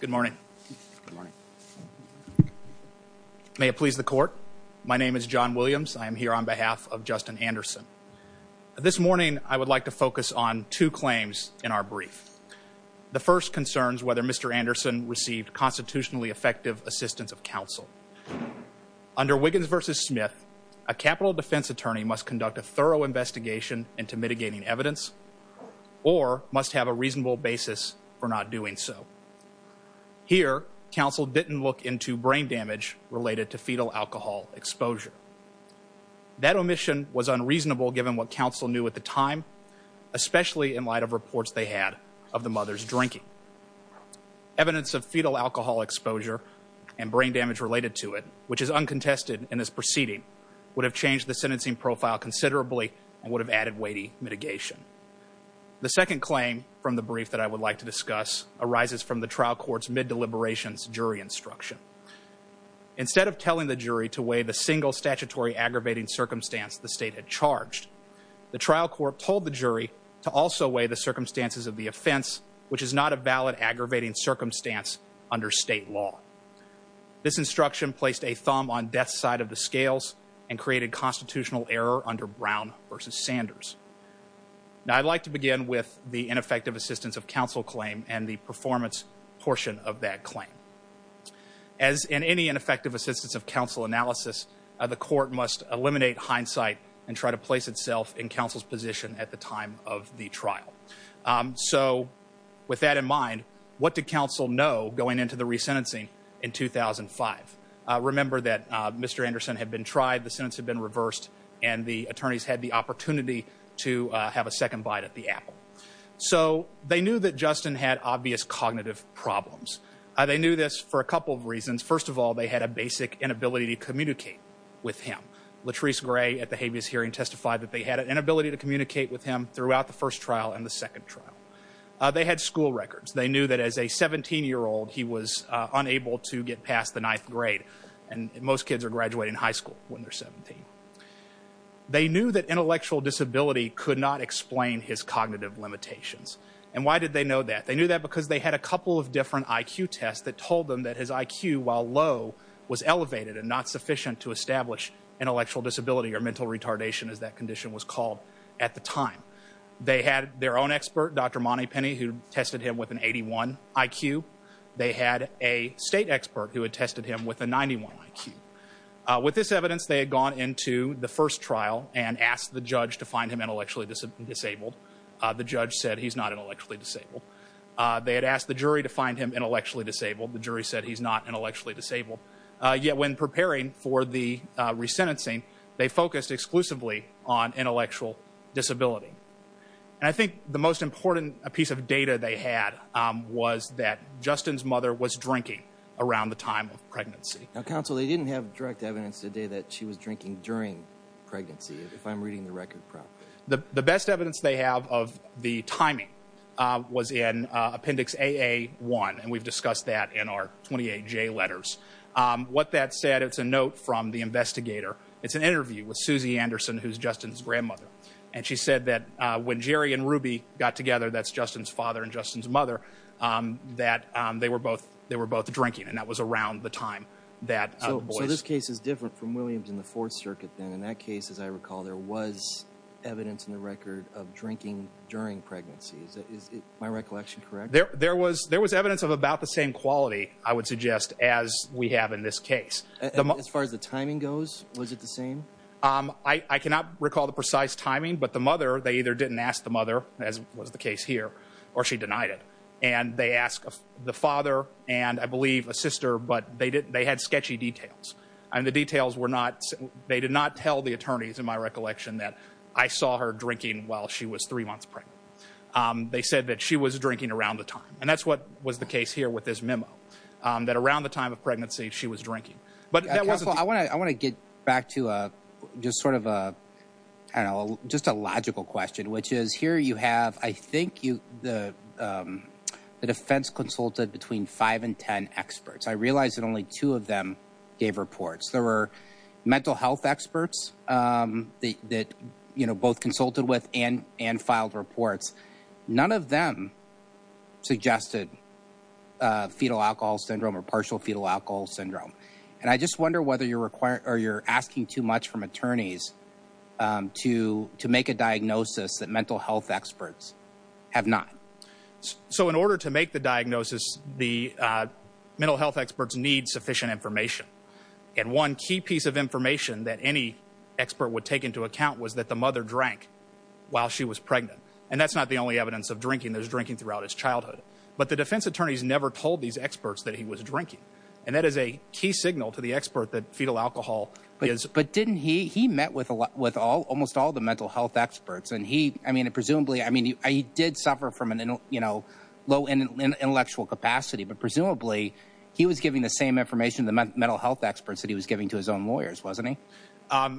Good morning. May it please the court. My name is John Williams. I am here on behalf of Justin Anderson. This morning I would like to focus on two claims in our brief. The first concerns whether Mr. Anderson received constitutionally effective assistance of counsel. Under Wiggins v. Smith, a capital defense attorney must conduct a thorough investigation into mitigating evidence or must have a reasonable basis for not doing so. Here, counsel didn't look into brain damage related to fetal alcohol exposure. That omission was unreasonable given what counsel knew at the time, especially in light of reports they had of the mother's drinking. Evidence of fetal alcohol exposure and brain damage related to it, which is uncontested in this proceeding, would have changed the sentencing profile considerably and would have added weighty mitigation. The second claim from the brief that I would like to discuss arises from the trial court's mid-deliberations jury instruction. Instead of telling the jury to weigh the single statutory aggravating circumstance the state had charged, the trial court told the jury to also weigh the circumstances of the offense, which is not a valid aggravating circumstance under state law. This instruction placed a thumb on death's side of the scales and created constitutional error under Brown v. Sanders. Now, I'd like to begin with the ineffective assistance of counsel claim and the performance portion of that claim. As in any ineffective assistance of counsel analysis, the court must eliminate hindsight and try to place itself in counsel's position at the time of the trial. So with that in mind, what did counsel know going into the resentencing in 2005? Remember that Mr. Anderson had been tried, the sentence had been reversed, and the attorneys had the opportunity to have a second bite at the apple. So they knew that Justin had obvious cognitive problems. They knew this for a couple of reasons. First of all, they had a basic inability to communicate with him. Latrice Gray at the habeas hearing testified that they had an inability to communicate with him throughout the first trial and the second trial. They had school records. They knew that as a 17-year-old, he was unable to get past the ninth grade. And most kids are graduating high school when they're 17. They knew that intellectual disability could not explain his cognitive limitations. And why did they know that? They knew that because they had a couple of different IQ tests that told them that his IQ, while low, was elevated and not sufficient to establish intellectual disability or mental retardation, as that condition was called at the time. They had their own expert, Dr. Monty Penny, who tested him with an 81 IQ. They had a state expert who had tested him with a 91 IQ. With this evidence, they had gone into the first trial and asked the judge to find him intellectually disabled. The judge said, he's not intellectually disabled. They had asked the jury to find him intellectually disabled. The jury said, he's not intellectually disabled. Yet when preparing for the resentencing, they focused exclusively on intellectual disability. And I think the most important piece of data they had was that Justin's mother was drinking around the time of pregnancy. Now, counsel, they didn't have direct evidence today that she was drinking during pregnancy, if I'm reading the record properly. The best evidence they have of the timing was in Appendix AA-1, and we've discussed that in our 28J letters. What that said, it's a note from the investigator. It's an interview with Susie Anderson, who's Justin's grandmother. And she said that when Jerry and Ruby got together, that's Justin's father and Justin's mother, that they were both drinking, and that was around the time that the boys... So this case is different from Williams and the Fourth Circuit, then. In that case, as I recall, there was evidence in the record of drinking during pregnancy. Is my recollection correct? There was evidence of about the same quality, I would suggest, as we have in this case. As far as the timing goes, was it the same? I cannot recall the precise timing, but the mother, they either didn't ask the mother, as was the case here, or she denied it. And they asked the father and, I believe, a sister, but they had sketchy details. And the details were not... They did not tell the attorneys, in my recollection, that I saw her drinking while she was three months pregnant. They said that she was drinking around the time. And that's what was the case here with this But that wasn't... Counsel, I want to get back to just sort of a, I don't know, just a logical question, which is, here you have, I think, the defense consulted between five and 10 experts. I realize that only two of them gave reports. There were mental health experts that both consulted with and filed reports. None of them suggested fetal alcohol syndrome or partial fetal alcohol syndrome. And I just wonder whether you're asking too much from attorneys to make a diagnosis that mental health experts have not. So in order to make the diagnosis, the mental health experts need sufficient information. And one key piece of information that any expert would take into account was that the mother drank while she was pregnant. And that's not the only evidence of drinking. There's drinking throughout his childhood. But the defense attorneys never told these experts that he was drinking. And that is a key signal to the expert that fetal alcohol is... But didn't he, he met with almost all the mental health experts. And he, I mean, presumably, I mean, he did suffer from, you know, low intellectual capacity, but presumably he was giving the same information to the mental health experts that he was giving to his own lawyers, wasn't he?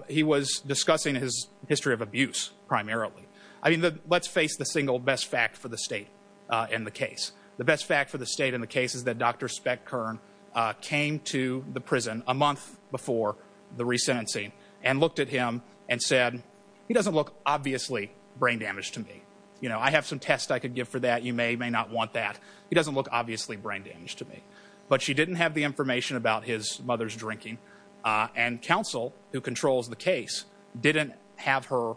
He was discussing his history of abuse, primarily. I mean, let's face the single best fact for the state in the case. The best fact for the state in the case is that Dr. Speck Kern came to the prison a month before the resentencing and looked at him and said, he doesn't look obviously brain damaged to me. You know, I have some tests I could give for that. You may, may not want that. He doesn't look obviously brain damaged to me. But she didn't have the information about his mother's drinking. And counsel who controls the case didn't have her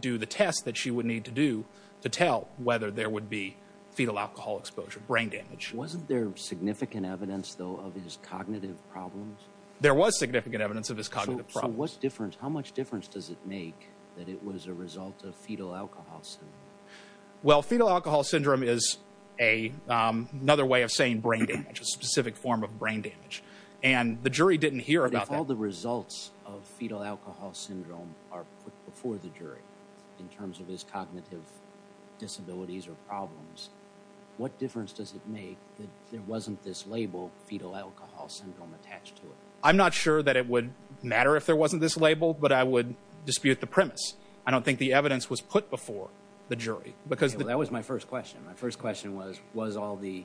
do the test that she would need to do to tell whether there would be fetal alcohol exposure, brain damage. Wasn't there significant evidence though of his cognitive problems? There was significant evidence of his cognitive problems. So what's the difference? How much difference does it make that it was a result of fetal alcohol syndrome? Well fetal alcohol syndrome is a, another way of saying brain damage, a specific form of brain damage. And the jury didn't hear about that. If the results of fetal alcohol syndrome are put before the jury in terms of his cognitive disabilities or problems, what difference does it make that there wasn't this label fetal alcohol syndrome attached to it? I'm not sure that it would matter if there wasn't this label, but I would dispute the premise. I don't think the evidence was put before the jury. That was my first question. My first question was, was all the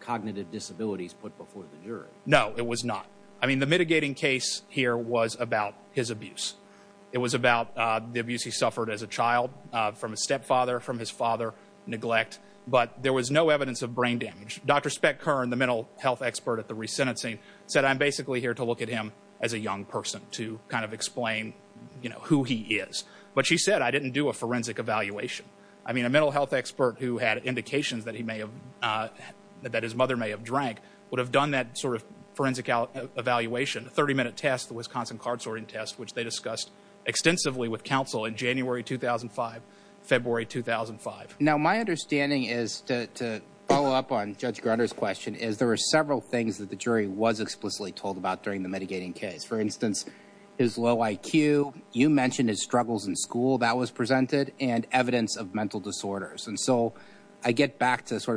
cognitive disabilities put before the jury? No, it was not. I mean, the mitigating case here was about his abuse. It was about the abuse he suffered as a child from a stepfather, from his father, neglect. But there was no evidence of brain damage. Dr. Speck Kern, the mental health expert at the resentencing, said, I'm basically here to look at him as a young person to kind of explain, you know, who he is. But she said, I didn't do a forensic evaluation. I mean, a mental health expert who had indications that he may have, that his mother may have drank, would have done that sort of forensic evaluation, a 30-minute test, the Wisconsin card sorting test, which they discussed extensively with counsel in January 2005, February 2005. Now my understanding is, to follow up on Judge Grutter's question, is there were several things that the jury was explicitly told about during the mitigating case. For instance, his low IQ, you mentioned his struggles in school, that was presented, and evidence of to sort of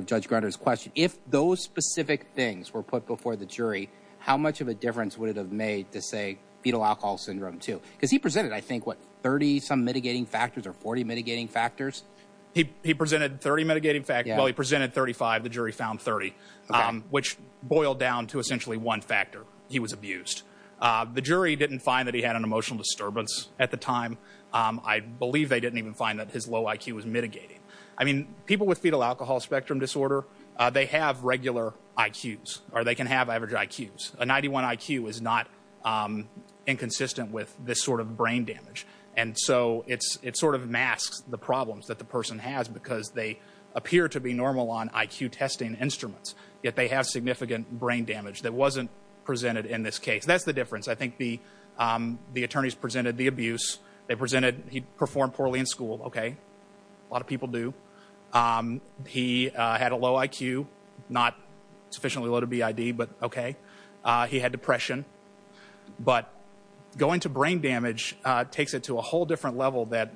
Judge Grutter's question, if those specific things were put before the jury, how much of a difference would it have made to say fetal alcohol syndrome too? Because he presented, I think, what, 30 some mitigating factors or 40 mitigating factors? He presented 30 mitigating factors. Well, he presented 35. The jury found 30, which boiled down to essentially one factor. He was abused. The jury didn't find that he had an emotional disturbance at the time. I believe they didn't even find that his low IQ was mitigating. I mean, people with fetal alcohol spectrum disorder, they have regular IQs, or they can have average IQs. A 91 IQ is not inconsistent with this sort of brain damage. And so it sort of masks the problems that the person has because they appear to be normal on IQ testing instruments, yet they have significant brain damage that wasn't presented in this case. That's the difference. I think the attorneys presented the abuse. They presented he performed poorly in school. Okay. A lot of people do. He had a low IQ, not sufficiently low to be ID, but okay. He had depression. But going to brain damage takes it to a whole different level that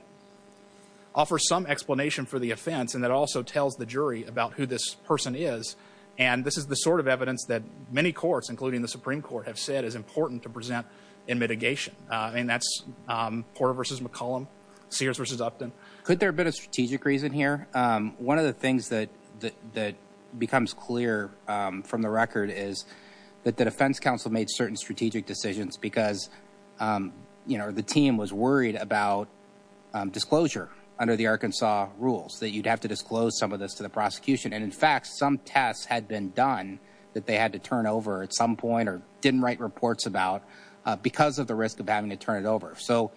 offers some explanation for the offense and that also tells the jury about who this person is. And this is the sort of evidence that many courts, including the Supreme Court, have said is important to present in mitigation. I mean, that's Porter versus McCollum, Sears versus Upton. Could there have been a strategic reason here? One of the things that becomes clear from the record is that the defense counsel made certain strategic decisions because the team was worried about disclosure under the Arkansas rules, that you'd have to disclose some of this to the prosecution. And in fact, some tests had been done that they had to turn over at some point or didn't write reports about because of the risk of having to turn it over. So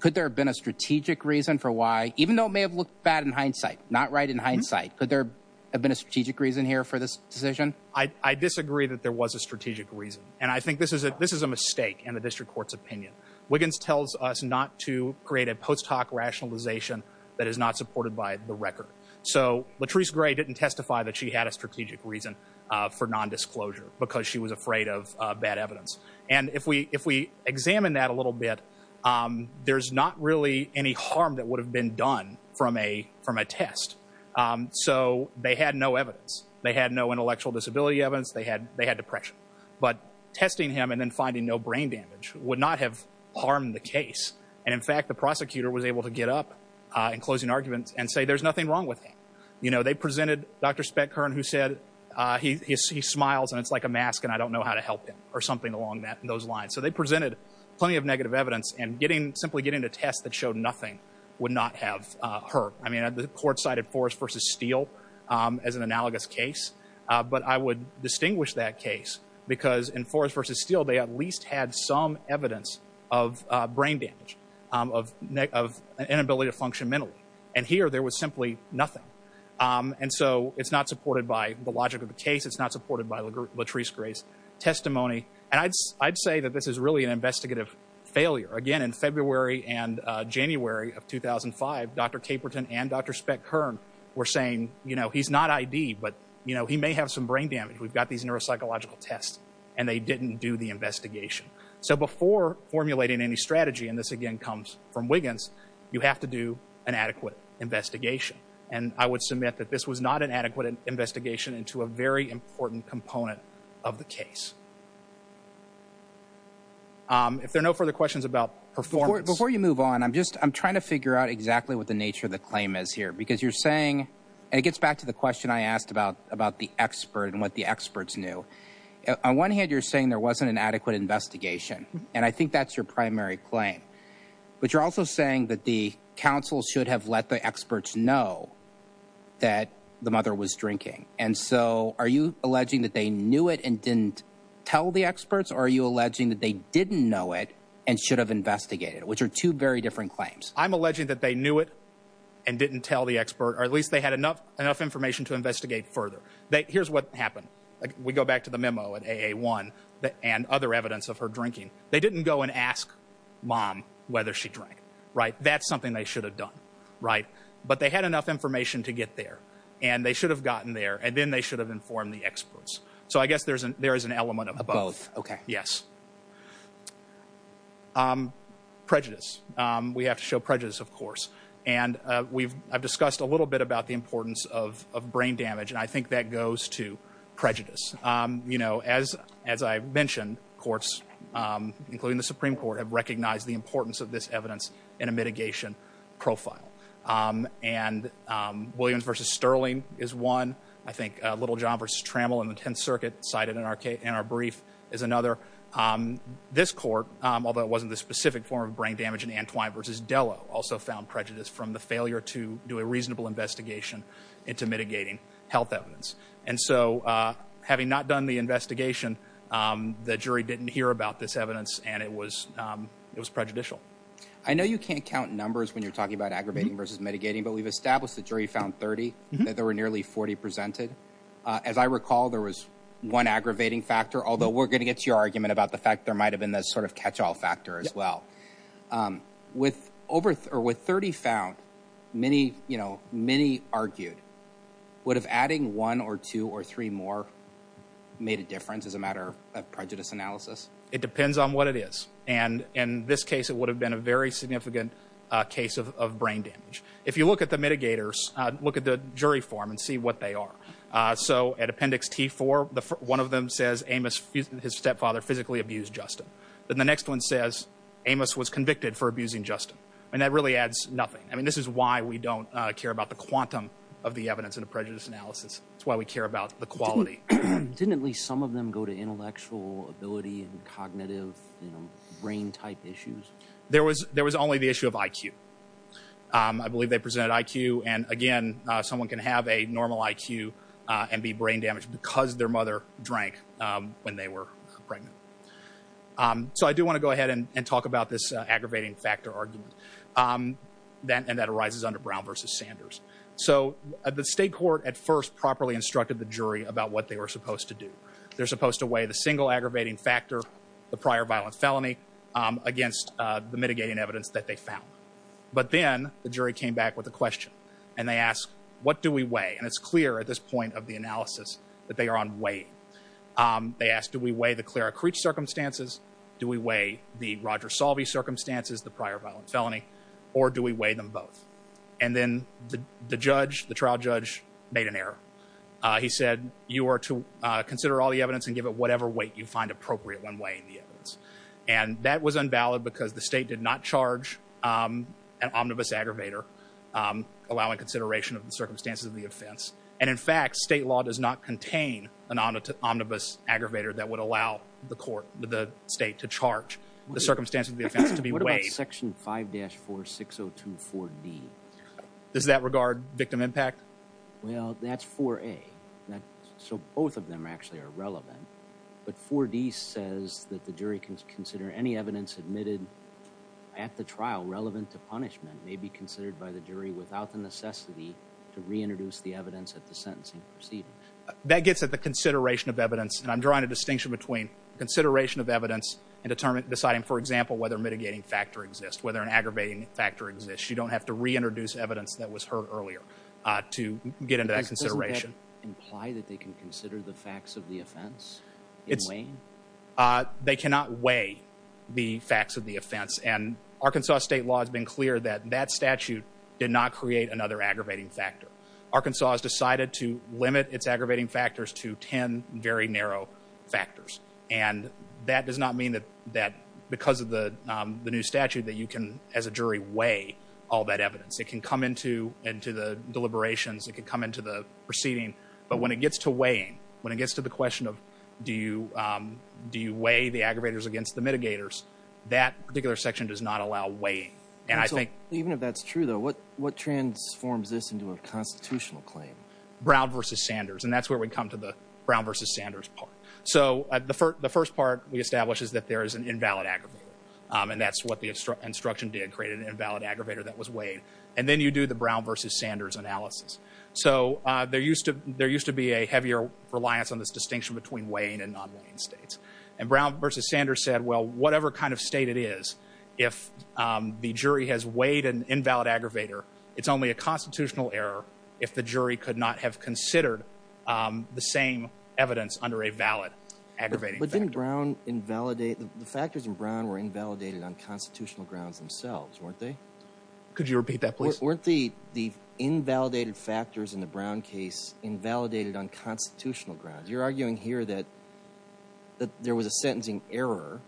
could there have been a strategic reason for why, even though it may have looked bad in hindsight, not right in hindsight, could there have been a strategic reason here for this decision? I disagree that there was a strategic reason. And I think this is a mistake in the district court's opinion. Wiggins tells us not to create a post hoc rationalization that is not supported by the record. So Latrice Gray didn't testify that she had a strategic reason for non-disclosure because she was afraid of bad evidence. And if we examine that a little bit, there's not really any harm that would have been done from a test. So they had no evidence. They had no intellectual disability evidence. They had depression. But testing him and then finding no brain damage would not have harmed the case. And in fact, the prosecutor was able to get up in closing arguments and say, there's nothing wrong with him. They presented Dr. Speckhorn, who said, he smiles and it's like a mask and I don't know how to help him or something along those lines. So they presented plenty of negative evidence and simply getting a test that showed nothing would not have hurt. I mean, the court cited Forrest v. Steele as an analogous case. But I would distinguish that case because in Forrest v. Steele, they at least had some evidence of brain damage, of inability to function mentally. And here, there was simply nothing. And so it's not supported by the logic of the case. It's not supported by Latrice Gray's testimony. And I'd say that this is really an investigative failure. Again, in February and January of 2005, Dr. Caperton and Dr. Speckhorn were saying, he's not ID, but he may have some brain damage. We've got these neuropsychological tests. And they didn't do the investigation. So before formulating any strategy, and this again, comes from Wiggins, you have to do an adequate investigation. And I would submit that this was not an adequate investigation into a very important component of the case. If there are no further questions about performance... Before you move on, I'm just, I'm trying to figure out exactly what the nature of the claim is here. Because you're saying, and it gets back to the question I asked about, about the expert and what the experts knew. On one hand, you're saying there wasn't an adequate investigation. And I think that's your primary claim. But you're also saying that the council should have let the experts know that the mother was drinking. And so are you alleging that they knew it and didn't tell the experts? Or are you alleging that they didn't know it and should have investigated it? Which are two very different claims. I'm alleging that they knew it and didn't tell the expert, or at least they had enough information to investigate further. Here's what happened. We go back to the memo at AA1 and other evidence of her drinking. They didn't go and ask mom whether she drank. That's something they should have done. But they had enough information to get there. And they should have gotten there. And then they should have informed the experts. So I guess there is an element of both. Yes. Prejudice. We have to show prejudice, of course. And I've discussed a little bit about the importance of brain damage. And I think that goes to prejudice. As I've mentioned, courts, including the Supreme Court, have recognized the importance of this evidence in a mitigation profile. And Williams v. Sterling is one. I think Littlejohn v. Trammell in the Tenth Circuit cited in our brief is another. This court, although it wasn't the specific form of brain damage in Antwine v. Dello, also found prejudice from the failure to do a reasonable investigation into mitigating health evidence. And so having not done the investigation, the jury didn't hear about this evidence. And it was prejudicial. I know you can't count numbers when you're talking about aggravating versus mitigating. But we've established the jury found 30 that there were nearly 40 presented. As I recall, there was one aggravating factor, although we're going to get to your argument about the fact there might have been this sort of catch-all factor as well. With 30 found, many argued. Would have adding one or two or three more made a difference as a matter of prejudice analysis? It depends on what it is. And in this case, it would have been a very significant case of brain damage. If you look at the mitigators, look at the jury form and see what they are. So at Appendix T4, one of them says Amos, his stepfather, physically abused Justin. Then the next one says Amos was convicted for abusing Justin. And that really adds nothing. I mean, this is why we don't care about the quantum of the evidence in a prejudice analysis. It's why we care about the quality. Didn't at least some of them go to intellectual ability and cognitive brain type issues? There was only the issue of IQ. I believe they presented IQ. And again, someone can have a normal IQ and be brain damaged because their mother drank when they were pregnant. So I do want to go ahead and talk about this aggravating factor argument. And that arises under Brown versus Sanders. So the state court at first properly instructed the jury about what they were supposed to do. They're supposed to weigh the single aggravating factor, the prior violent felony, against the mitigating evidence that they found. But then the jury came back with a question. And they asked, what do we weigh? And it's clear at this point of the analysis that they are on weight. They asked, do we weigh the Clara Creech circumstances? Do we weigh the Roger Salvey circumstances, the prior violent felony? Or do we weigh them both? And then the judge, the trial judge, made an error. He said, you are to consider all the evidence and give it whatever weight you find appropriate when weighing the evidence. And that was unvalid because the state did not charge an omnibus aggravator, allowing consideration of the circumstances of the offense. And in fact, state law does not contain an omnibus aggravator that would allow the court, the state, to charge the circumstances of the offense to be weighed. What about section 5-46024D? Does that regard victim impact? Well, that's 4A. So both of them actually are relevant. But 4D says that the jury can consider any evidence admitted at the trial relevant to punishment may be considered by the jury without the necessity to reintroduce the evidence at the sentencing proceedings. That gets at the consideration of evidence. And I'm drawing a distinction between consideration of evidence and deciding, for example, whether a mitigating factor exists, whether an aggravating factor exists. You don't have to reintroduce evidence that was heard earlier to get into that consideration. Doesn't that imply that they can consider the facts of the offense in weighing? They cannot weigh the facts of the offense. And Arkansas state law has been clear that that statute did not create another aggravating factor. Arkansas has decided to limit its aggravating factors to 10 very narrow factors. And that does not mean that because of the new statute that you can, as a jury, weigh all that evidence. It can come into the deliberations. It can come into the proceeding. But when it gets to weighing, when it gets to the question of do you weigh the aggravators against the mitigators, that particular section does not allow weighing. Even if that's true, though, what transforms this into a constitutional claim? Brown v. Sanders. And that's where we come to the Brown v. Sanders part. So the first part we establish is that there is an invalid aggravator. And that's what the instruction did, create an invalid aggravator that was weighed. And then you do the Brown v. Sanders analysis. So there used to be a heavier reliance on this distinction between weighing and non-weighing states. And Brown v. Sanders said, well, whatever kind of state it is, if the jury has weighed an invalid aggravator, it's only a constitutional error if the jury could not have considered the same evidence under a valid aggravating factor. But didn't Brown invalidate, the factors in Brown were invalidated on constitutional grounds themselves, weren't they? Could you invalidate factors in the Brown case invalidated on constitutional grounds? You're arguing here that there was a sentencing error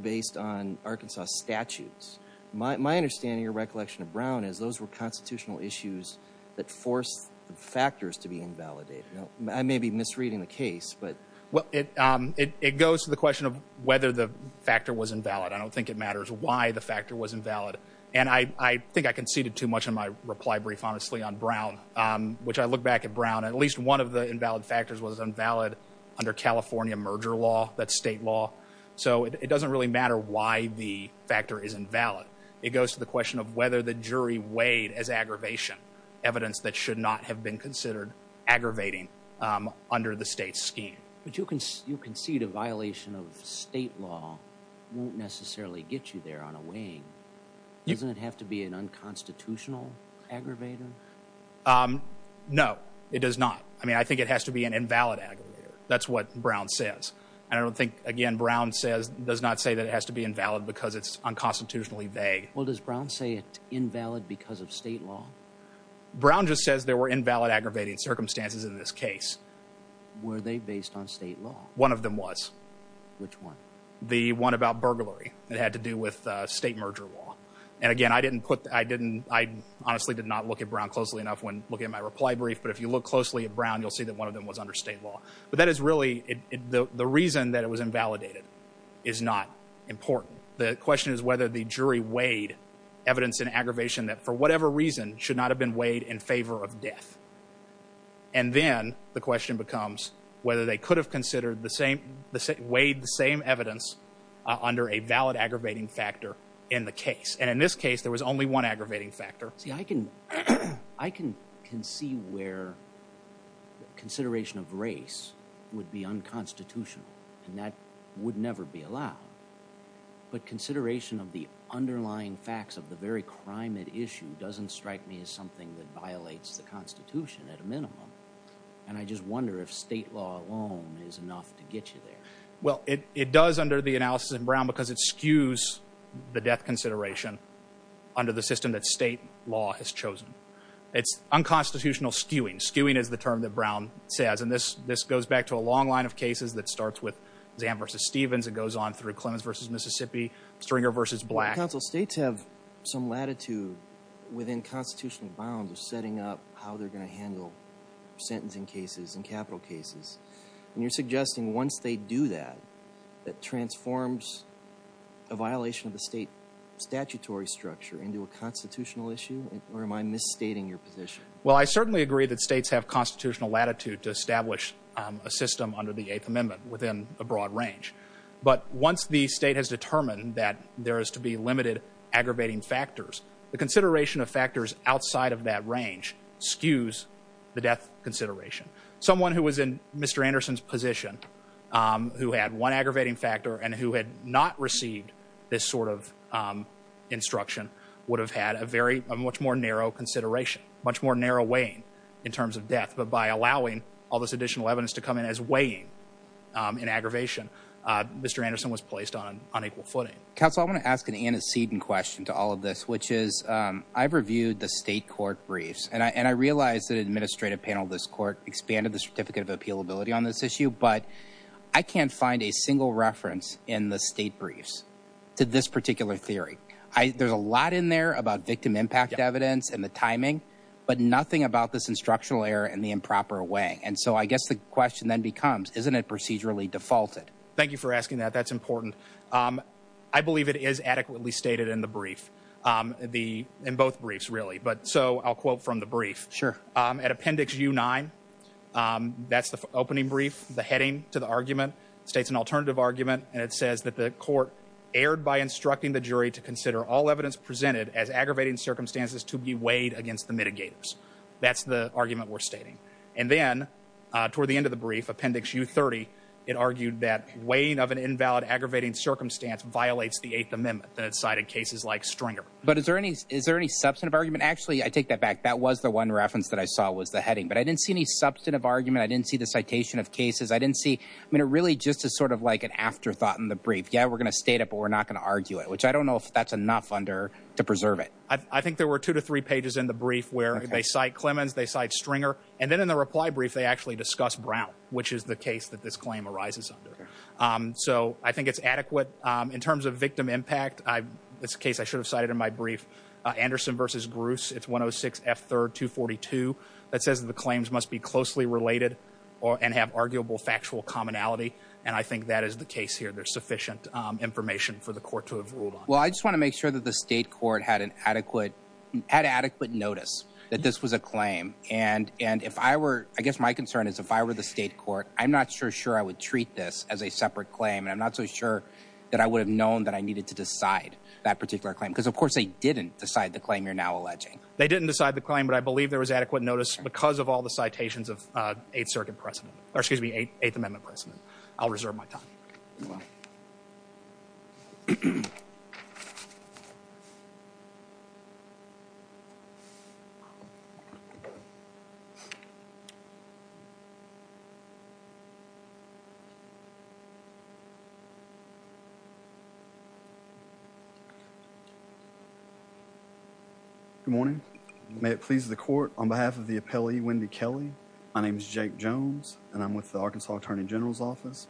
based on Arkansas statutes. My understanding or recollection of Brown is those were constitutional issues that forced the factors to be invalidated. I may be misreading the case, but... Well, it goes to the question of whether the factor was invalid. I don't think it matters why the factor was invalid. And I think I conceded too much in my reply brief, honestly, on Brown, which I look back at Brown, at least one of the invalid factors was invalid under California merger law, that's state law. So it doesn't really matter why the factor is invalid. It goes to the question of whether the jury weighed as aggravation evidence that should not have been considered aggravating under the state scheme. But you concede a violation of state law won't necessarily get you there on a weighing. Doesn't it have to be an unconstitutional aggravator? No, it does not. I mean, I think it has to be an invalid aggravator. That's what Brown says. And I don't think, again, Brown says, does not say that it has to be invalid because it's unconstitutionally vague. Well, does Brown say it's invalid because of state law? Brown just says there were invalid aggravating circumstances in this case. Were they based on state law? One of them was. Which one? The one about burglary. It had to do with state merger law. And again, I didn't put, I didn't, I honestly did not look at Brown closely enough when looking at my reply brief. But if you look closely at Brown, you'll see that one of them was under state law. But that is really, the reason that it was invalidated is not important. The question is whether the jury weighed evidence in aggravation that for whatever reason should not have been weighed in favor of death. And then the question becomes whether they could have considered the same, weighed the same evidence under a valid aggravating factor in the case. And in this case, there was only one aggravating factor. See, I can, I can, can see where consideration of race would be unconstitutional and that would never be allowed. But consideration of the underlying facts of the very crime at issue doesn't strike me as something that violates the constitution at a minimum. And I just wonder if state law alone is enough to get you there. Well, it, it does under the analysis in Brown, because it skews the death consideration under the system that state law has chosen. It's unconstitutional skewing. Skewing is the term that Brown says. And this, this goes back to a long line of cases that starts with Zan v. Stevens. It goes on through Clemens v. Mississippi, Stringer v. Black. Counsel, states have some latitude within constitutional bounds of setting up how they're going to handle sentencing cases and capital cases. And you're suggesting once they do that, that transforms a violation of the state statutory structure into a constitutional issue? Or am I misstating your position? Well, I certainly agree that states have constitutional latitude to establish a system under the Eighth Amendment within a broad range. But once the state has determined that there is to be limited aggravating factors, the consideration of factors outside of that range skews the death consideration. Someone who was in Mr. Anderson's position, who had one aggravating factor and who had not received this sort of instruction, would have had a very, a much more narrow consideration, much more narrow weighing in terms of death. But by allowing all this additional evidence to come in as weighing in aggravation, Mr. Anderson was placed on unequal footing. Counsel, I want to ask an antecedent question to all of this, which is, I've reviewed the state court briefs and I realized that an administrative panel of this court expanded the certificate of appealability on this issue, but I can't find a single reference in the state briefs to this particular theory. There's a lot in there about victim impact evidence and the timing, but nothing about this instructional error in the improper way. And so I guess the question then becomes, isn't it procedurally defaulted? Thank you for asking that. That's important. I believe it is adequately stated in the brief, the, in both briefs really, but so I'll quote from the brief. Sure. At appendix U9, that's the opening brief, the heading to the argument, states an alternative argument, and it says that the court erred by instructing the jury to consider all evidence presented as aggravating circumstances to be weighed against the mitigators. That's the argument we're stating. And then toward the end of the brief, appendix U30, it argued that weighing of an invalid aggravating circumstance violates the eighth amendment that's cited cases like Stringer. But is there any, is there any substantive argument? Actually, I take that back. That was the one reference that I saw was the heading, but I didn't see any substantive argument. I didn't see the citation of cases. I didn't see, I mean, it really just is sort of like an afterthought in the brief. Yeah, we're going to state it, but we're not going to argue it, which I don't know if that's enough under to preserve it. I think there were two to three pages in the brief where they cite Clemens, they cite Stringer, and then in the reply brief, they actually discuss Brown, which is the case that this claim arises under. So I think it's adequate in terms of victim impact. It's a case I should have cited in my brief, Anderson versus Bruce. It's 106F3242. That says that the claims must be closely related and have arguable factual commonality. And I think that is the case here. There's sufficient information for the court to have ruled on. Well, I just want to make sure that the state were, I guess my concern is if I were the state court, I'm not sure, sure I would treat this as a separate claim. And I'm not so sure that I would have known that I needed to decide that particular claim because of course they didn't decide the claim you're now alleging. They didn't decide the claim, but I believe there was adequate notice because of all the citations of Eighth Circuit precedent, or excuse me, Eighth Amendment precedent. I'll reserve my time. Well, good morning. May it please the court on behalf of the appellee, Wendy Kelly. My name is Jake Jones and I'm with the Arkansas Attorney General's office.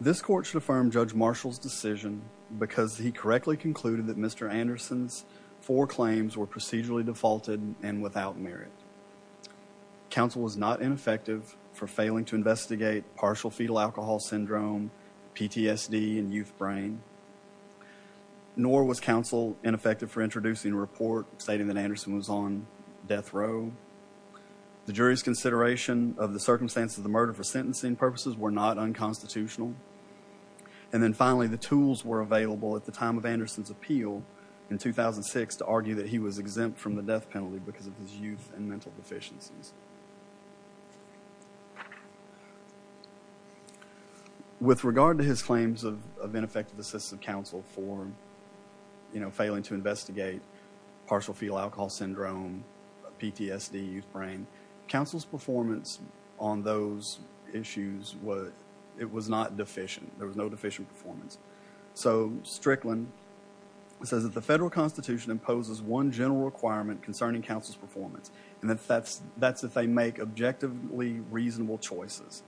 This court should affirm Judge Marshall's decision because he correctly concluded that Mr. Anderson's four claims were procedurally defaulted and without merit. Counsel was not ineffective for failing to investigate partial fetal alcohol syndrome, PTSD, and youth brain, nor was counsel ineffective for introducing a report stating that Anderson was on death row. The jury's consideration of the circumstance of the murder for sentencing purposes were not unconstitutional. And then finally, the tools were available at the time of Anderson's appeal in 2006 to argue that he was exempt from the death penalty because of his youth and mental deficiencies. With regard to his claims of ineffective assistance of counsel for failing to investigate partial fetal alcohol syndrome, PTSD, youth brain, counsel's performance on those issues was, it was not deficient. There was no deficient performance. So Strickland says that the federal constitution imposes one general requirement concerning counsel's performance, and that's if they make objectively reasonable choices.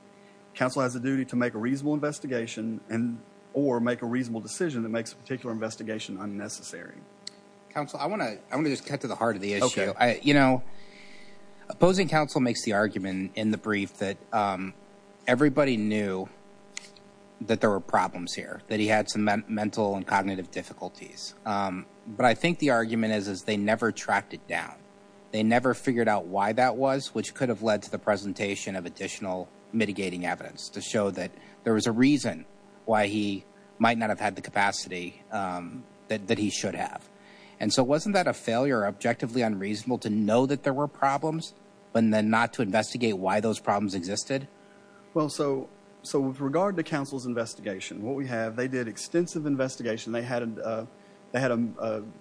Counsel has a duty to make a reasonable investigation and or make a reasonable decision that makes a particular investigation unnecessary. Counsel, I want to just cut to the heart of the issue. You know, opposing counsel makes the argument in the brief that everybody knew that there were problems here, that he had some mental and cognitive difficulties. But I think the argument is they never tracked it down. They never figured out why that was, which could have led to the presentation of additional mitigating evidence to show that there was a reason why he might not have had the capacity that he should have. And so wasn't that a failure, objectively unreasonable to know that there were problems, but then not to investigate why those problems existed? Well, so with regard to counsel's investigation, what we have, they did extensive investigation. They had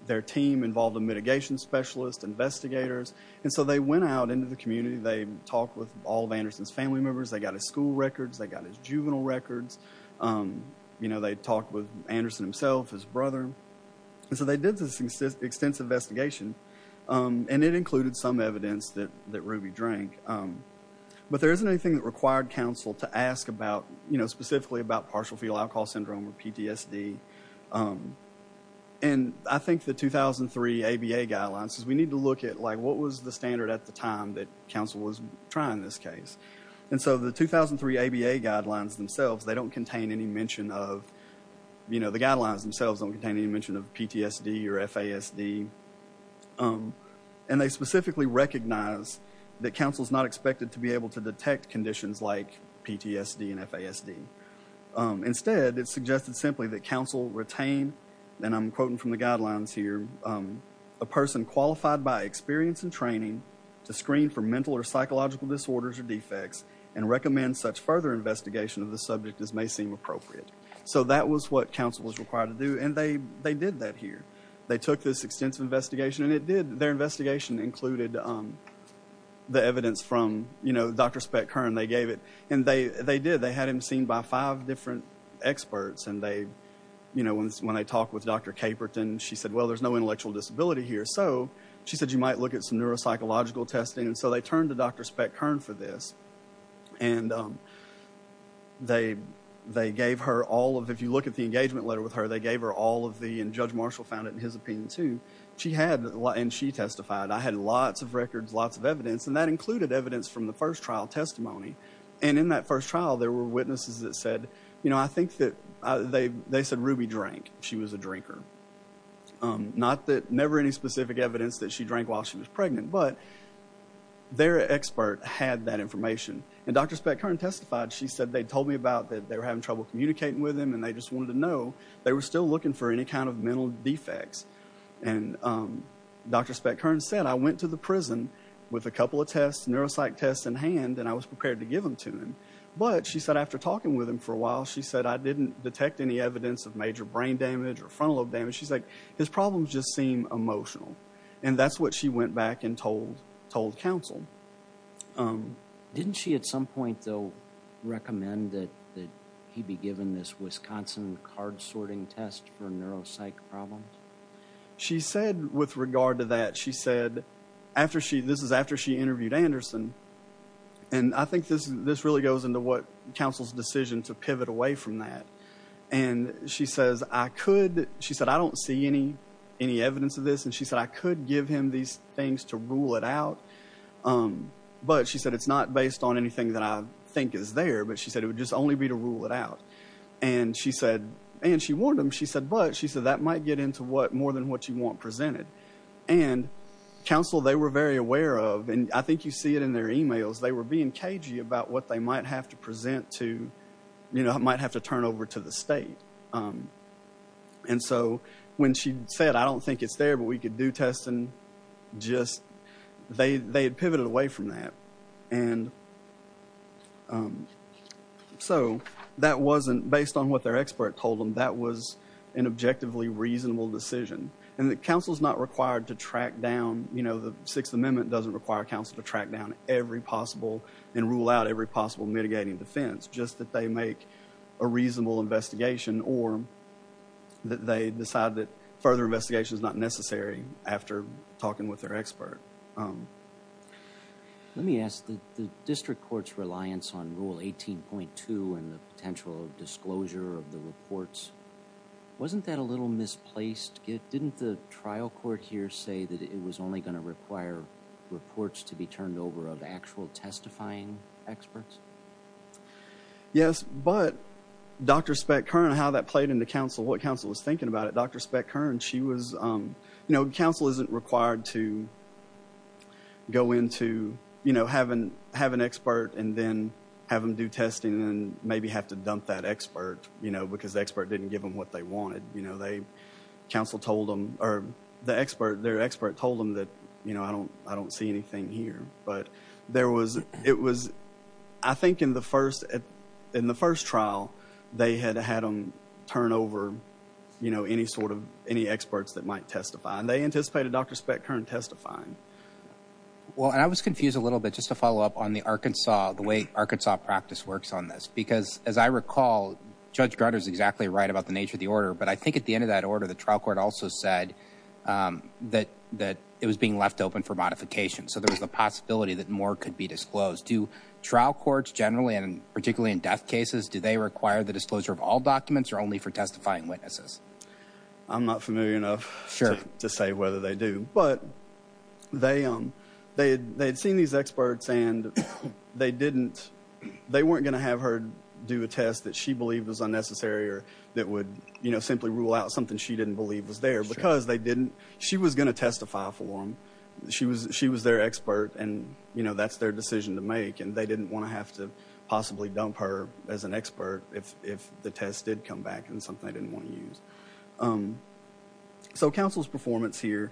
their team involved, a mitigation specialist, investigators. And so they went out into the community. They talked with all of Anderson's family members. They got his school records. They got his juvenile records. You know, they talked with Anderson himself, his brother. And so they did this extensive investigation, and it included some evidence that Ruby drank. But there isn't anything that required counsel to ask about, you know, specifically about partial fetal alcohol syndrome or PTSD. And I think the 2003 ABA guidelines, because we need to look at, like, what was the standard at the time that counsel was trying this case? And so the 2003 ABA guidelines themselves, they don't contain any mention of, you know, the guidelines themselves don't contain any mention of PTSD or FASD. And they specifically recognize that counsel's not expected to be able to detect conditions like PTSD and FASD. Instead, it suggested simply that counsel retain, and I'm quoting from the guidelines here, a person qualified by experience and training to screen for mental or psychological disorders or defects and recommend such further investigation of the subject as may seem appropriate. So that was what counsel was required to do, and they did that here. They took this extensive investigation, and it did, their investigation included the evidence from, you know, Dr. Speck-Kern. They gave it, and they did. They had him seen by five different experts, and they, you know, when they talked with Dr. Caperton, she said, well, there's no intellectual disability here, so she said you might look at some neuropsychological testing. And so they turned to Dr. Speck-Kern for this, and they gave her all of, if you look at the engagement letter with her, they gave her all of the, and Judge Marshall found it in his opinion, too. She had, and she testified, I had lots of records, lots of evidence, and that included evidence from the first trial testimony. And in that first trial, there were witnesses that said, you know, I think that they said Ruby drank. She was a drinker. Not that, never any specific evidence that she drank while she was pregnant, but their expert had that information. And Dr. Speck-Kern testified. She said they told me about that they were having trouble communicating with him, and they just wanted to know they were still looking for any kind of mental defects. And Dr. Speck-Kern said, I went to the prison with a couple of tests, neuropsych tests in hand, and I was prepared to give them to him. But she said after talking with him for a while, she said I didn't detect any evidence of major brain damage or frontal lobe damage. She's like, his problems just seem emotional. And that's what she went back and told, told counsel. Didn't she at some point, though, recommend that he be given this Wisconsin card sorting test for neuropsych problems? She said with regard to that, she said, after she, this is after she interviewed Anderson, and I think this, this really goes into what counsel's decision to pivot away from that. And she says, I could, she said, I don't see any, any evidence of this. And she said, I could give these things to rule it out. But she said, it's not based on anything that I think is there. But she said, it would just only be to rule it out. And she said, and she warned him, she said, but she said, that might get into what, more than what you want presented. And counsel, they were very aware of, and I think you see it in their emails, they were being cagey about what they might have to present to, you know, might have to turn over to the state. And so when she said, I don't think it's there, but we could do tests and just, they, they had pivoted away from that. And so that wasn't based on what their expert told them. That was an objectively reasonable decision. And the counsel's not required to track down, you know, the Sixth Amendment doesn't require counsel to track down every possible and rule out every possible mitigating defense, just that they make a reasonable investigation or that they decide that further investigation is not necessary after talking with their expert. Let me ask, the district court's reliance on Rule 18.2 and the potential disclosure of the reports, wasn't that a little misplaced? Didn't the trial court here say that it was only going to require reports to be turned over of actual testifying experts? Yes, but Dr. Speck-Kern, how that played into counsel, what counsel was thinking about it, Dr. Speck-Kern, she was, you know, counsel isn't required to go into, you know, have an, have an expert and then have them do testing and maybe have to dump that expert, you know, because the expert didn't give them what they wanted. You know, they, counsel told them, or the expert, their expert told them that, you know, I don't, I don't see anything here, but there was, it was, I think in the first, in the first trial, they had had them turn over, you know, any sort of, any experts that might testify and they anticipated Dr. Speck-Kern testifying. Well, and I was confused a little bit, just to follow up on the Arkansas, the way Arkansas practice works on this, because as I recall, Judge Grutter's exactly right about the nature of the order, but I think at the end of that order, the trial court also said that, that it was being left open for modification. So there was a possibility that more could be disclosed. Do trial courts generally, and particularly in death cases, do they require the disclosure of all documents or only for testifying witnesses? I'm not familiar enough to say whether they do, but they, they, they'd seen these experts and they didn't, they weren't going to have her do a test that she believed was unnecessary or that would, you know, simply rule out something she didn't believe was there because they didn't, she was going to testify for them. She was, she was their expert and, you know, that's their decision to make and they didn't want to have to possibly dump her as an expert if, if the test did come back and something they didn't want to use. So counsel's performance here,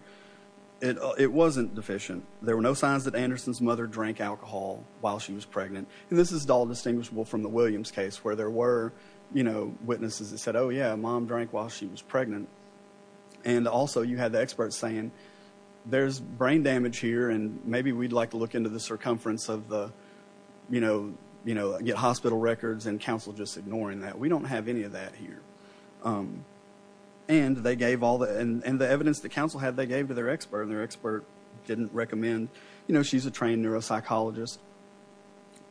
it, it wasn't deficient. There were no signs that Anderson's mother drank alcohol while she was pregnant. And this is all distinguishable from the Williams case where there were, you know, witnesses that said, oh yeah, mom drank while she was pregnant. And also you had the experts saying there's brain damage here and maybe we'd like to look into the circumference of the, you know, you know, get hospital records and counsel just ignoring that. We don't have any of that here. And they gave all the, and, and the evidence that counsel had, they gave to their expert and their expert didn't recommend, you know, she's a trained neuropsychologist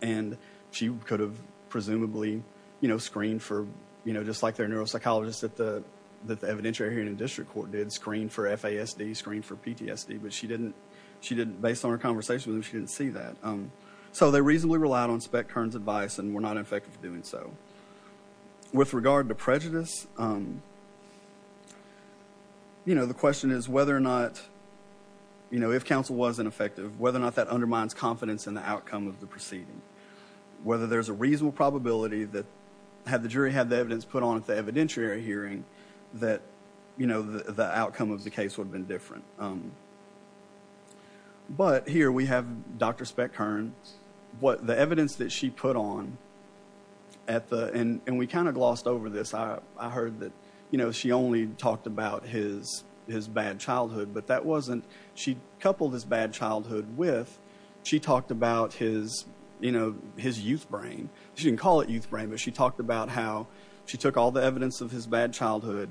and she could have presumably, you know, screened for, you know, just like their neuropsychologist at the, that the evidentiary hearing and district court did, screened for FASD, screened for PTSD, but she didn't, she didn't, based on her conversation with them, she didn't see that. So they reasonably relied on Spec Kern's advice and were not effective doing so. With regard to prejudice, you know, the question is whether or not, you know, if counsel wasn't effective, whether or not that undermines confidence in the outcome of the proceeding. Whether there's a reasonable probability that had the jury had the evidence put on at the evidentiary hearing that, you know, the outcome of the case would have been different. But here we have Dr. Spec Kern, what the evidence that she put on at the, and we kind of glossed over this, I heard that, you know, she only talked about his, his bad childhood, but that wasn't, she coupled his bad youth brain, but she talked about how she took all the evidence of his bad childhood.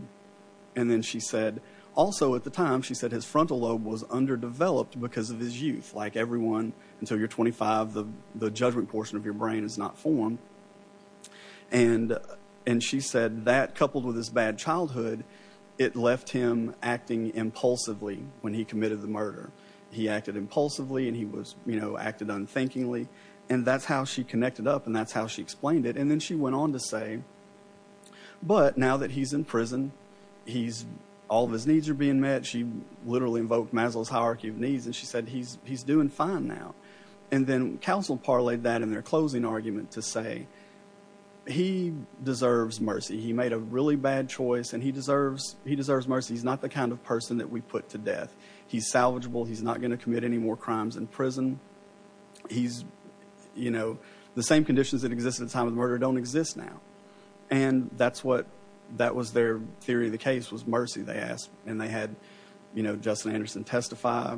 And then she said, also at the time, she said his frontal lobe was underdeveloped because of his youth. Like everyone until you're 25, the judgment portion of your brain is not formed. And, and she said that coupled with his bad childhood, it left him acting impulsively when he committed the murder. He acted impulsively and he was, you know, acted unthinkingly. And that's how she connected up and that's how she explained it. And then she went on to say, but now that he's in prison, he's, all of his needs are being met. She literally invoked Maslow's hierarchy of needs. And she said, he's, he's doing fine now. And then counsel parlayed that in their closing argument to say, he deserves mercy. He made a really bad choice and he deserves, he deserves mercy. He's not the kind of person that we put to death. He's salvageable. He's not going to commit any more crimes in prison. He's, you know, the same conditions that exist in time of murder don't exist now. And that's what, that was their theory of the case was mercy they asked. And they had, you know, Justin Anderson testify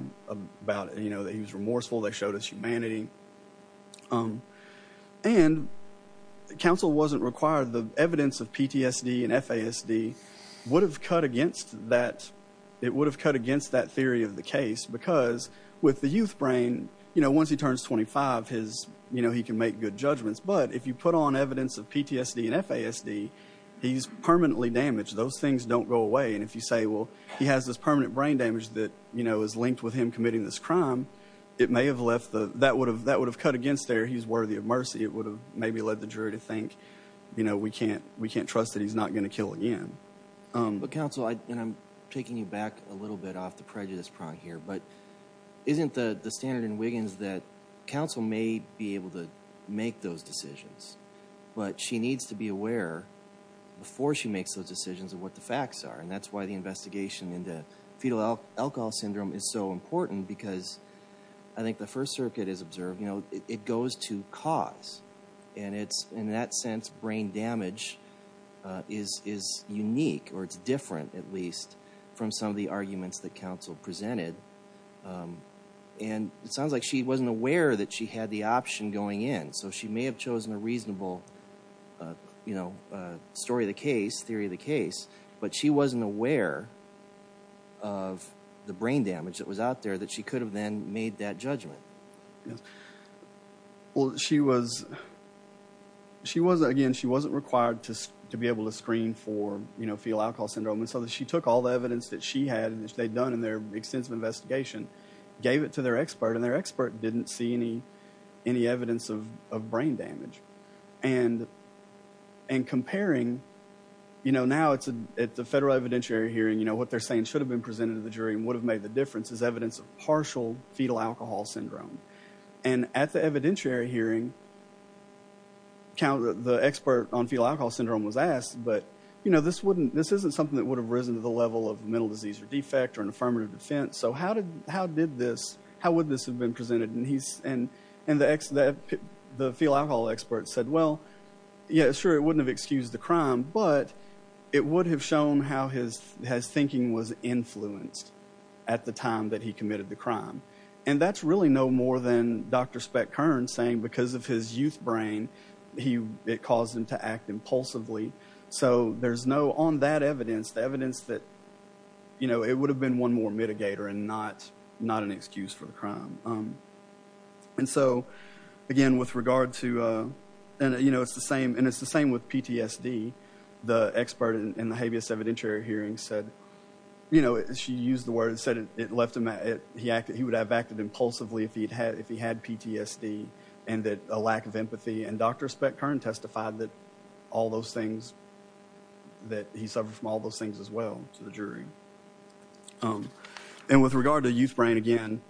about it, you know, that he was remorseful. They showed us humanity. And counsel wasn't required, the evidence of PTSD and FASD would have cut that, it would have cut against that theory of the case because with the youth brain, you know, once he turns 25, his, you know, he can make good judgments. But if you put on evidence of PTSD and FASD, he's permanently damaged. Those things don't go away. And if you say, well, he has this permanent brain damage that, you know, is linked with him committing this crime, it may have left the, that would have, that would have cut against there. He's worthy of mercy. It would have maybe led the jury to think, you know, we can't, we can't trust that he's not going to kill again. But counsel, and I'm taking you back a little bit off the prejudice prong here, but isn't the standard in Wiggins that counsel may be able to make those decisions, but she needs to be aware before she makes those decisions of what the facts are. And that's why the investigation into fetal alcohol syndrome is so important because I think the first circuit is observed, you know, it goes to cause. And it's in that sense, brain damage is unique, or it's different at least from some of the arguments that counsel presented. And it sounds like she wasn't aware that she had the option going in. So she may have chosen a reasonable, you know, story of the case, theory of the case, but she wasn't aware of the brain damage that was out there that she could have then made that judgment. Yes. Well, she was, she was, again, she wasn't required to be able to screen for, you know, fetal alcohol syndrome. And so she took all the evidence that she had and they'd done in their extensive investigation, gave it to their expert and their expert didn't see any, any evidence of brain damage. And, and comparing, you know, now it's a, it's a federal evidentiary hearing, you know, what they're saying should have been presented to the jury and would have is evidence of partial fetal alcohol syndrome. And at the evidentiary hearing, the expert on fetal alcohol syndrome was asked, but, you know, this wouldn't, this isn't something that would have risen to the level of mental disease or defect or an affirmative defense. So how did, how did this, how would this have been presented? And he's, and, and the ex, the fetal alcohol expert said, well, yeah, sure, it wouldn't have excused the crime, but it would have shown how his, his thinking was influenced at the time that he committed the crime. And that's really no more than Dr. Speck-Kerns saying because of his youth brain, he, it caused him to act impulsively. So there's no, on that evidence, the evidence that, you know, it would have been one more mitigator and not, not an excuse for the crime. And so, again, with regard to, and, you know, it's the same, and it's the same with PTSD, the expert in the habeas evidentiary hearing said, you know, she used the word and said it, it left him at it. He acted, he would have acted impulsively if he'd had, if he had PTSD and that a lack of empathy. And Dr. Speck-Kern testified that all those things, that he suffered from all those things as well to the jury. And with regard to youth brain, again,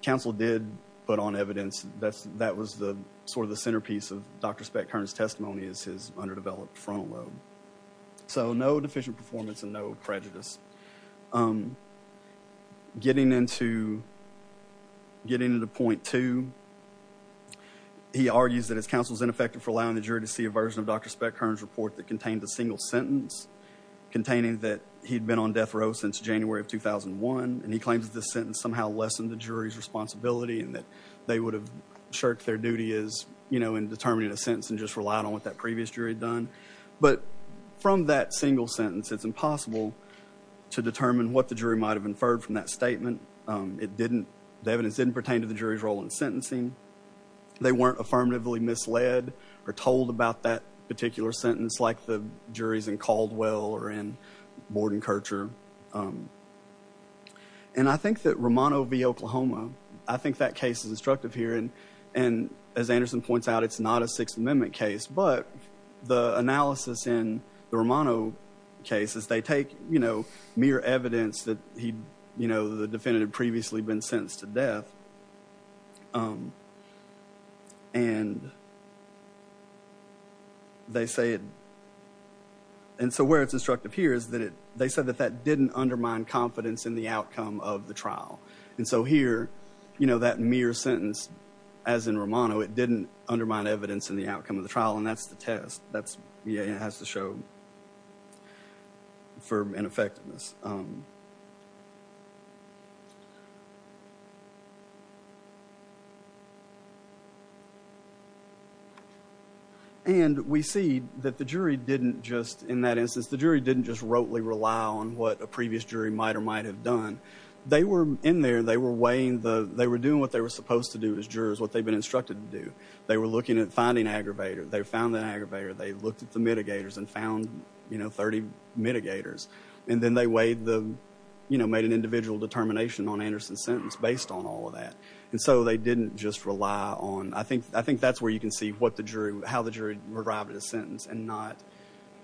counsel did put on evidence. That's, that was the, sort of the centerpiece of Dr. Speck-Kerns testimony is his underdeveloped frontal lobe. So no deficient performance and no prejudice. Getting into, getting into point two, he argues that his counsel is ineffective for allowing the jury to see a version of Dr. Speck-Kerns report that contained a single sentence containing that he'd been on death row since January of 2001. And he claims that this sentence somehow lessened the jury's responsibility and that they would have shirked their duty as, you know, in determining a sentence and just relied on what that previous jury had done. But from that single sentence, it's impossible to determine what the jury might have inferred from that statement. It didn't, the evidence didn't pertain to the jury's role in sentencing. They weren't affirmatively misled or told about that particular sentence like the Romano v. Oklahoma. I think that case is instructive here. And, and as Anderson points out, it's not a Sixth Amendment case, but the analysis in the Romano case is they take, you know, mere evidence that he, you know, the defendant had previously been sentenced to death. And they say, and so where it's instructive here is that it, they said that that didn't undermine confidence in the outcome of the trial. And so here, you know, that mere sentence, as in Romano, it didn't undermine evidence in the outcome of the trial. And that's the test. That's, yeah, it has to show for an effectiveness. And we see that the jury didn't just, in that instance, the jury didn't just rotely rely on what a previous jury might or might have done. They were in there, they were weighing the, they were doing what they were supposed to do as jurors, what they'd been instructed to do. They were looking at finding aggravator. They found that aggravator. They looked at the mitigators and found, you know, 30 mitigators. And then they weighed the, you know, made an individual determination on Anderson's sentence based on all of that. And so they didn't just rely on, I think, I think that's where you can see what the jury, how the jury revived a sentence and not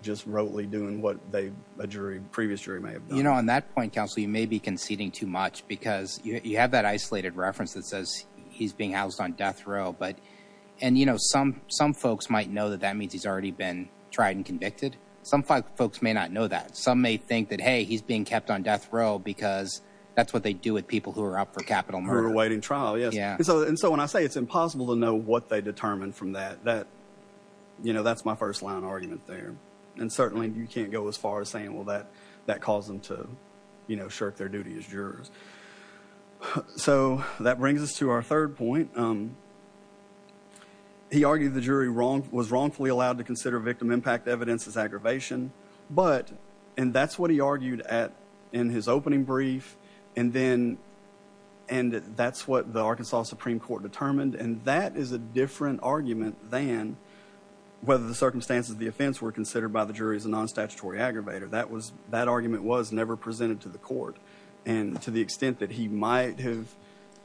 just rotely doing what they, a jury, previous jury may have done. You know, on that point, counsel, you may be conceding too much because you have that isolated reference that says he's being housed on death row. But, and, you know, some, some folks might know that that means he's already been tried and convicted. Some folks may not know that. Some may think that, hey, he's being kept on death row because that's what they do with people who are up for capital murder awaiting trial. Yeah. And so, and so when I say it's impossible to know what they determined from that, that, you know, that's my first line of argument there. And certainly you can't go as far as saying, well, that, that caused them to, you know, shirk their duty as jurors. So that brings us to our third point. He argued the jury wrong, was wrongfully allowed to consider victim impact evidence as aggravation, but, and that's what he argued at in his opening brief. And then, and that's what the Arkansas Supreme Court determined. And that is a different argument than whether the circumstances of the offense were considered by the jury as a non-statutory aggravator. That was, that argument was never presented to the court. And to the extent that he might have,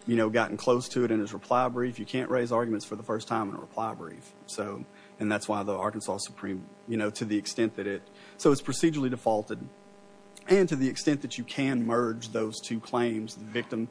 you know, gotten close to it in his reply brief, you can't raise arguments for the first time in a reply brief. So, and that's why the Arkansas Supreme, you know, to the extent that it, so it's procedurally defaulted. And to the extent that you can merge those two claims, the victim,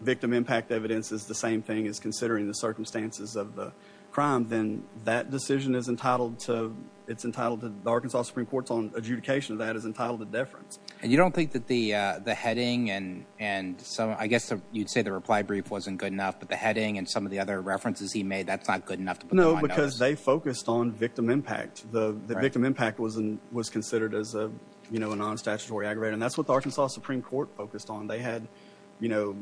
victim impact evidence is the same thing as considering the circumstances of the crime, then that decision is entitled to, it's entitled to, the Arkansas Supreme Court's own adjudication of that is entitled to deference. And you don't think that the, the heading and, and so I guess you'd say the reply brief wasn't good enough, but the heading and some of the other references he made, that's not good enough to put on notice. No, because they focused on victim impact. The victim impact was, was considered as a, you know, a non-statutory aggravator. And that's what the Arkansas Supreme Court focused on. They had, you know,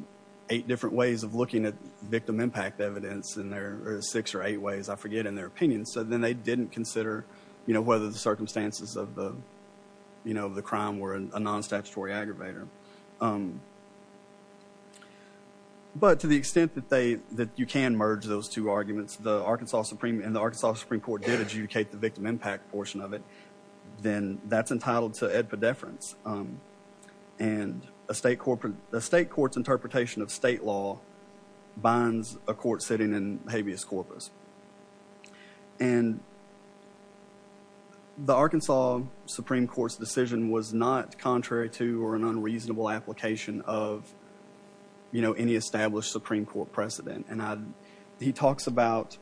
eight different ways of looking at victim impact evidence in their, or six or eight ways, I forget, in their opinion. So then they didn't consider, you know, whether the circumstances of the, you know, the crime were a non-statutory aggravator. But to the extent that they, that you can merge those two arguments, the Arkansas Supreme and the Arkansas Supreme Court did adjudicate the victim impact portion of it, then that's entitled to ad pedeference. And a state court, a state court's interpretation of state law binds a court sitting in habeas corpus. And the Arkansas Supreme Court's decision was not contrary to or an unreasonable application of, you know, any established Supreme Court precedent. And he talks about,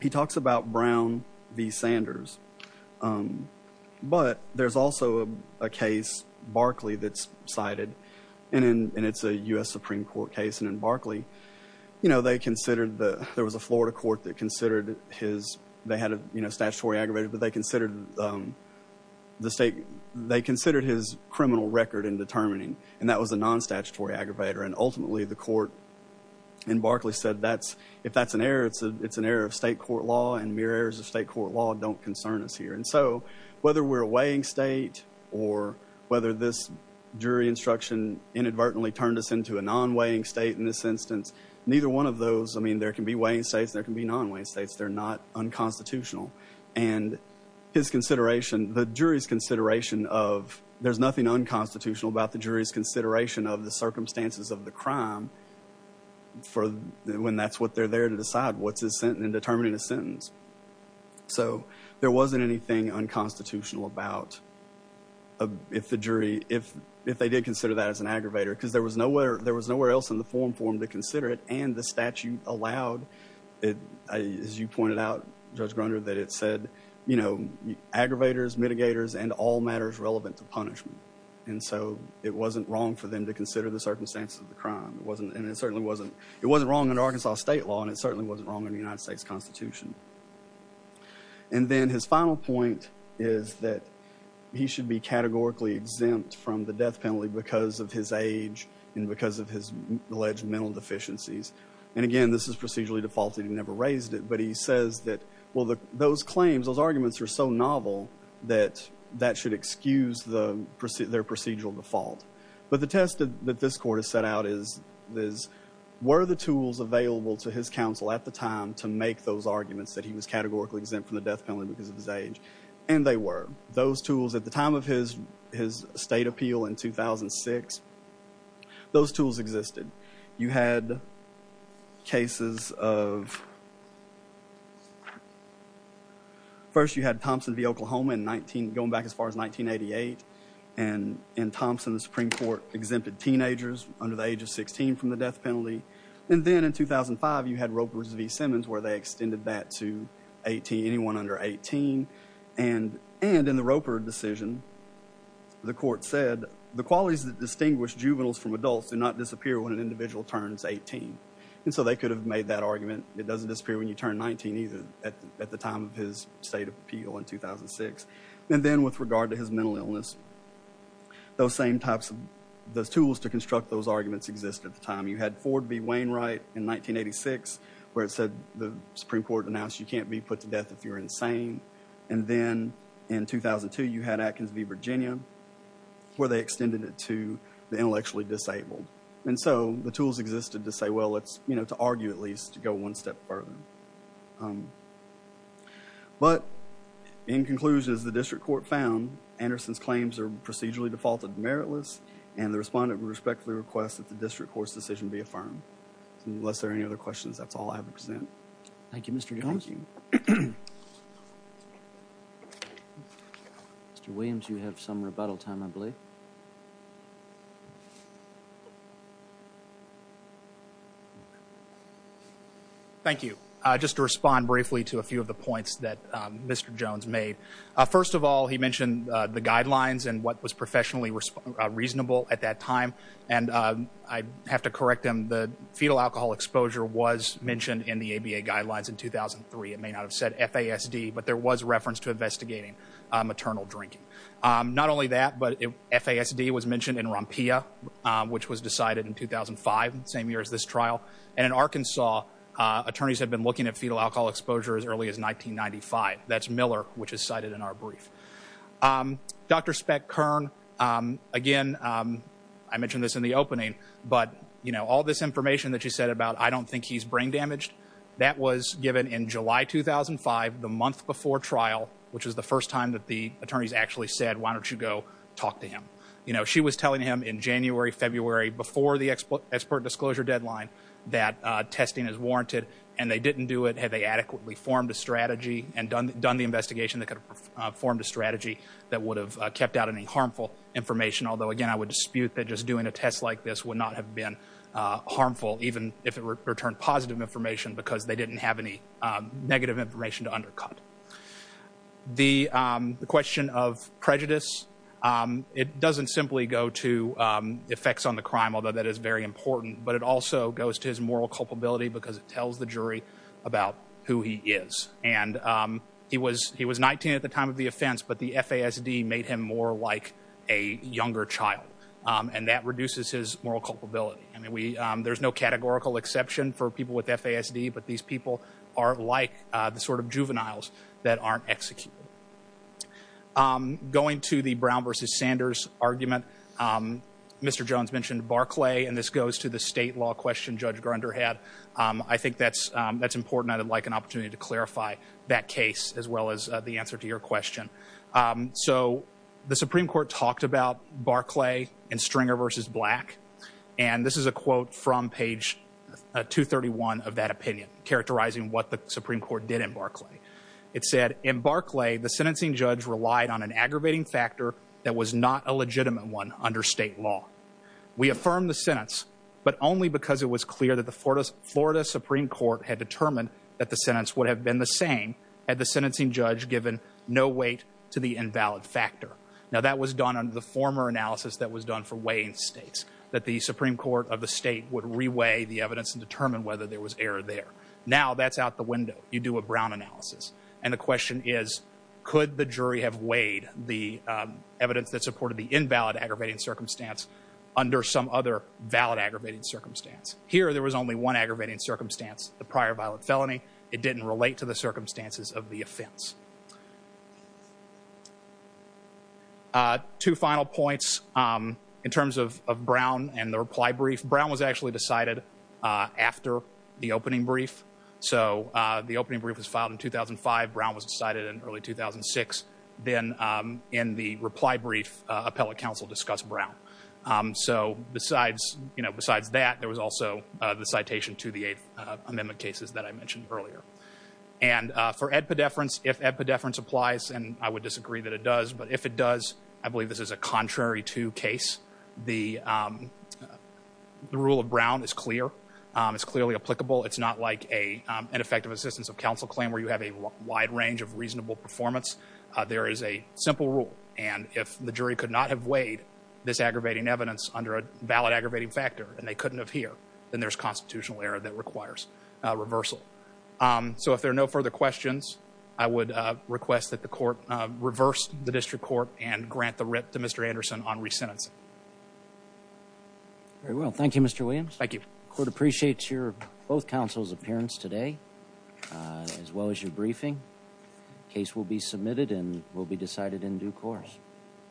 he talks about Brown v. Sanders. But there's also a case, Barclay, that's cited. And it's a U.S. Supreme Court case. And in Barclay, you know, they considered the, there was a Florida court that considered his, they had a, you know, statutory aggravator, but they considered the state, they considered his criminal record in determining. And that was a non-statutory aggravator. And ultimately the court in Barclay said, that's, if that's an error, it's a, it's an error of state court law and mere errors of state court law don't concern us here. And so whether we're a weighing state or whether this jury instruction inadvertently turned us into a non-weighing state in this instance, neither one of those, I mean, there can be weighing states and there can be non-weighing states. They're not unconstitutional. And his consideration, the jury's consideration of, there's nothing unconstitutional about the jury's consideration of the circumstances of the crime for when that's what they're there to decide. What's his sentence in determining a sentence. So there wasn't anything unconstitutional about if the jury, if, if they did consider that as an aggravator, because there was nowhere, there was nowhere else in the forum for him to consider it. And the statute allowed it, as you pointed out, Judge Grunder, that it said, you know, aggravators, mitigators, and all matters relevant to punishment. And so it wasn't wrong for them to consider the circumstances of the crime. It wasn't, and it certainly wasn't, it wasn't wrong in Arkansas state law and it certainly wasn't wrong in the United States constitution. And then his final point is that he should be categorically exempt from the death penalty because of his age and because of his alleged mental deficiencies. And again, this is procedurally defaulted. He never raised it, but he says that, well, those claims, those arguments are so novel that that should excuse their procedural default. But the test that this court has set out is, were the tools available to his counsel at the time to make those arguments that he was categorically exempt from the death penalty because of his age? And they were. Those tools at the time of his state appeal in 2006, those tools existed. You had cases of, first you had Thompson v. Oklahoma in 19, going back as far as 1988. And in Thompson, the Supreme Court exempted teenagers under the age of 16 from the death penalty. And then in 2005, you had Roper v. Simmons, where they extended that anyone under 18. And in the Roper decision, the court said, the qualities that distinguish juveniles from adults do not disappear when an individual turns 18. And so they could have made that argument. It doesn't disappear when you turn 19 either at the time of his state appeal in 2006. And then with regard to his mental illness, those same types of, those tools to construct those arguments exist at the time. You had Ford v. Wainwright in 1986, where it said the Supreme Court announced you can't be put to death if you're insane. And then in 2002, you had Atkins v. Virginia, where they extended it to the intellectually disabled. And so the tools existed to say, well, let's, you know, to argue at least to go one step further. But in conclusion, as the district court found, Anderson's claims are procedurally defaulted meritless. And the respondent would respectfully request that the district court's decision be adopted. Mr. Jones? Mr. Williams, you have some rebuttal time, I believe. Thank you. Just to respond briefly to a few of the points that Mr. Jones made. First of all, he mentioned the guidelines and what was professionally reasonable at that time. And I have to correct him. The fetal alcohol exposure was mentioned in the ABA guidelines in 2003. It may not have said FASD, but there was reference to investigating maternal drinking. Not only that, but FASD was mentioned in ROMPIA, which was decided in 2005, same year as this trial. And in Arkansas, attorneys had been looking at fetal alcohol exposure as early as 1995. That's Miller, which is cited in our brief. Dr. Speck-Kern, again, I mentioned this in the opening, but, you know, all this information that you said about, I don't think he's brain damaged, that was given in July 2005, the month before trial, which was the first time that the attorneys actually said, why don't you go talk to him? You know, she was telling him in January, February, before the expert disclosure deadline, that testing is warranted. And they didn't do it had they adequately formed a strategy and done the investigation that could have formed a strategy that would have kept out any harmful information. Although, again, I would dispute that just doing a test like this would not have been harmful, even if it returned positive information, because they didn't have any negative information to undercut. The question of prejudice, it doesn't simply go to effects on the crime, although that is very important, but it also goes to his moral culpability, because it tells the jury about who he is. And he was 19 at the time of the offense, but the FASD made him more like a younger child. And that reduces his moral culpability. I mean, there's no categorical exception for people with FASD, but these people are like the sort of juveniles that aren't executed. Going to the Brown versus Sanders argument, Mr. Jones mentioned Barclay, and this goes to the state law question Judge Grunder had. I think that's important. I'd like an opportunity to So the Supreme Court talked about Barclay and Stringer versus Black, and this is a quote from page 231 of that opinion, characterizing what the Supreme Court did in Barclay. It said, in Barclay, the sentencing judge relied on an aggravating factor that was not a legitimate one under state law. We affirm the sentence, but only because it was clear that the Florida Supreme Court had determined that the sentence would have been the same had the sentencing judge given no weight to the invalid factor. Now, that was done under the former analysis that was done for weighing states, that the Supreme Court of the state would reweigh the evidence and determine whether there was error there. Now that's out the window. You do a Brown analysis, and the question is, could the jury have weighed the evidence that supported the invalid aggravating circumstance under some other valid aggravating circumstance? Here, there was only one aggravating circumstance, the prior violent felony. It didn't relate to the circumstances of the offense. Two final points. In terms of Brown and the reply brief, Brown was actually decided after the opening brief. The opening brief was filed in 2005. Brown was decided in early 2006. Then in the reply brief, appellate counsel discussed Brown. Besides that, there was also the citation to the Eighth Amendment cases that I mentioned earlier. And for edpedeference, if edpedeference applies, and I would disagree that it does, but if it does, I believe this is a contrary to case. The rule of Brown is clear. It's clearly applicable. It's not like an effective assistance of counsel claim where you have a wide range of reasonable performance. There is a simple rule, and if the jury could not have weighed this aggravating evidence under a valid aggravating factor, and they couldn't have here, then there's constitutional error that So if there are no further questions, I would request that the court reverse the district court and grant the writ to Mr. Anderson on resentencing. Very well. Thank you, Mr. Williams. Thank you. Court appreciates both counsel's appearance today, as well as your briefing. Case will be submitted and will be decided in due course.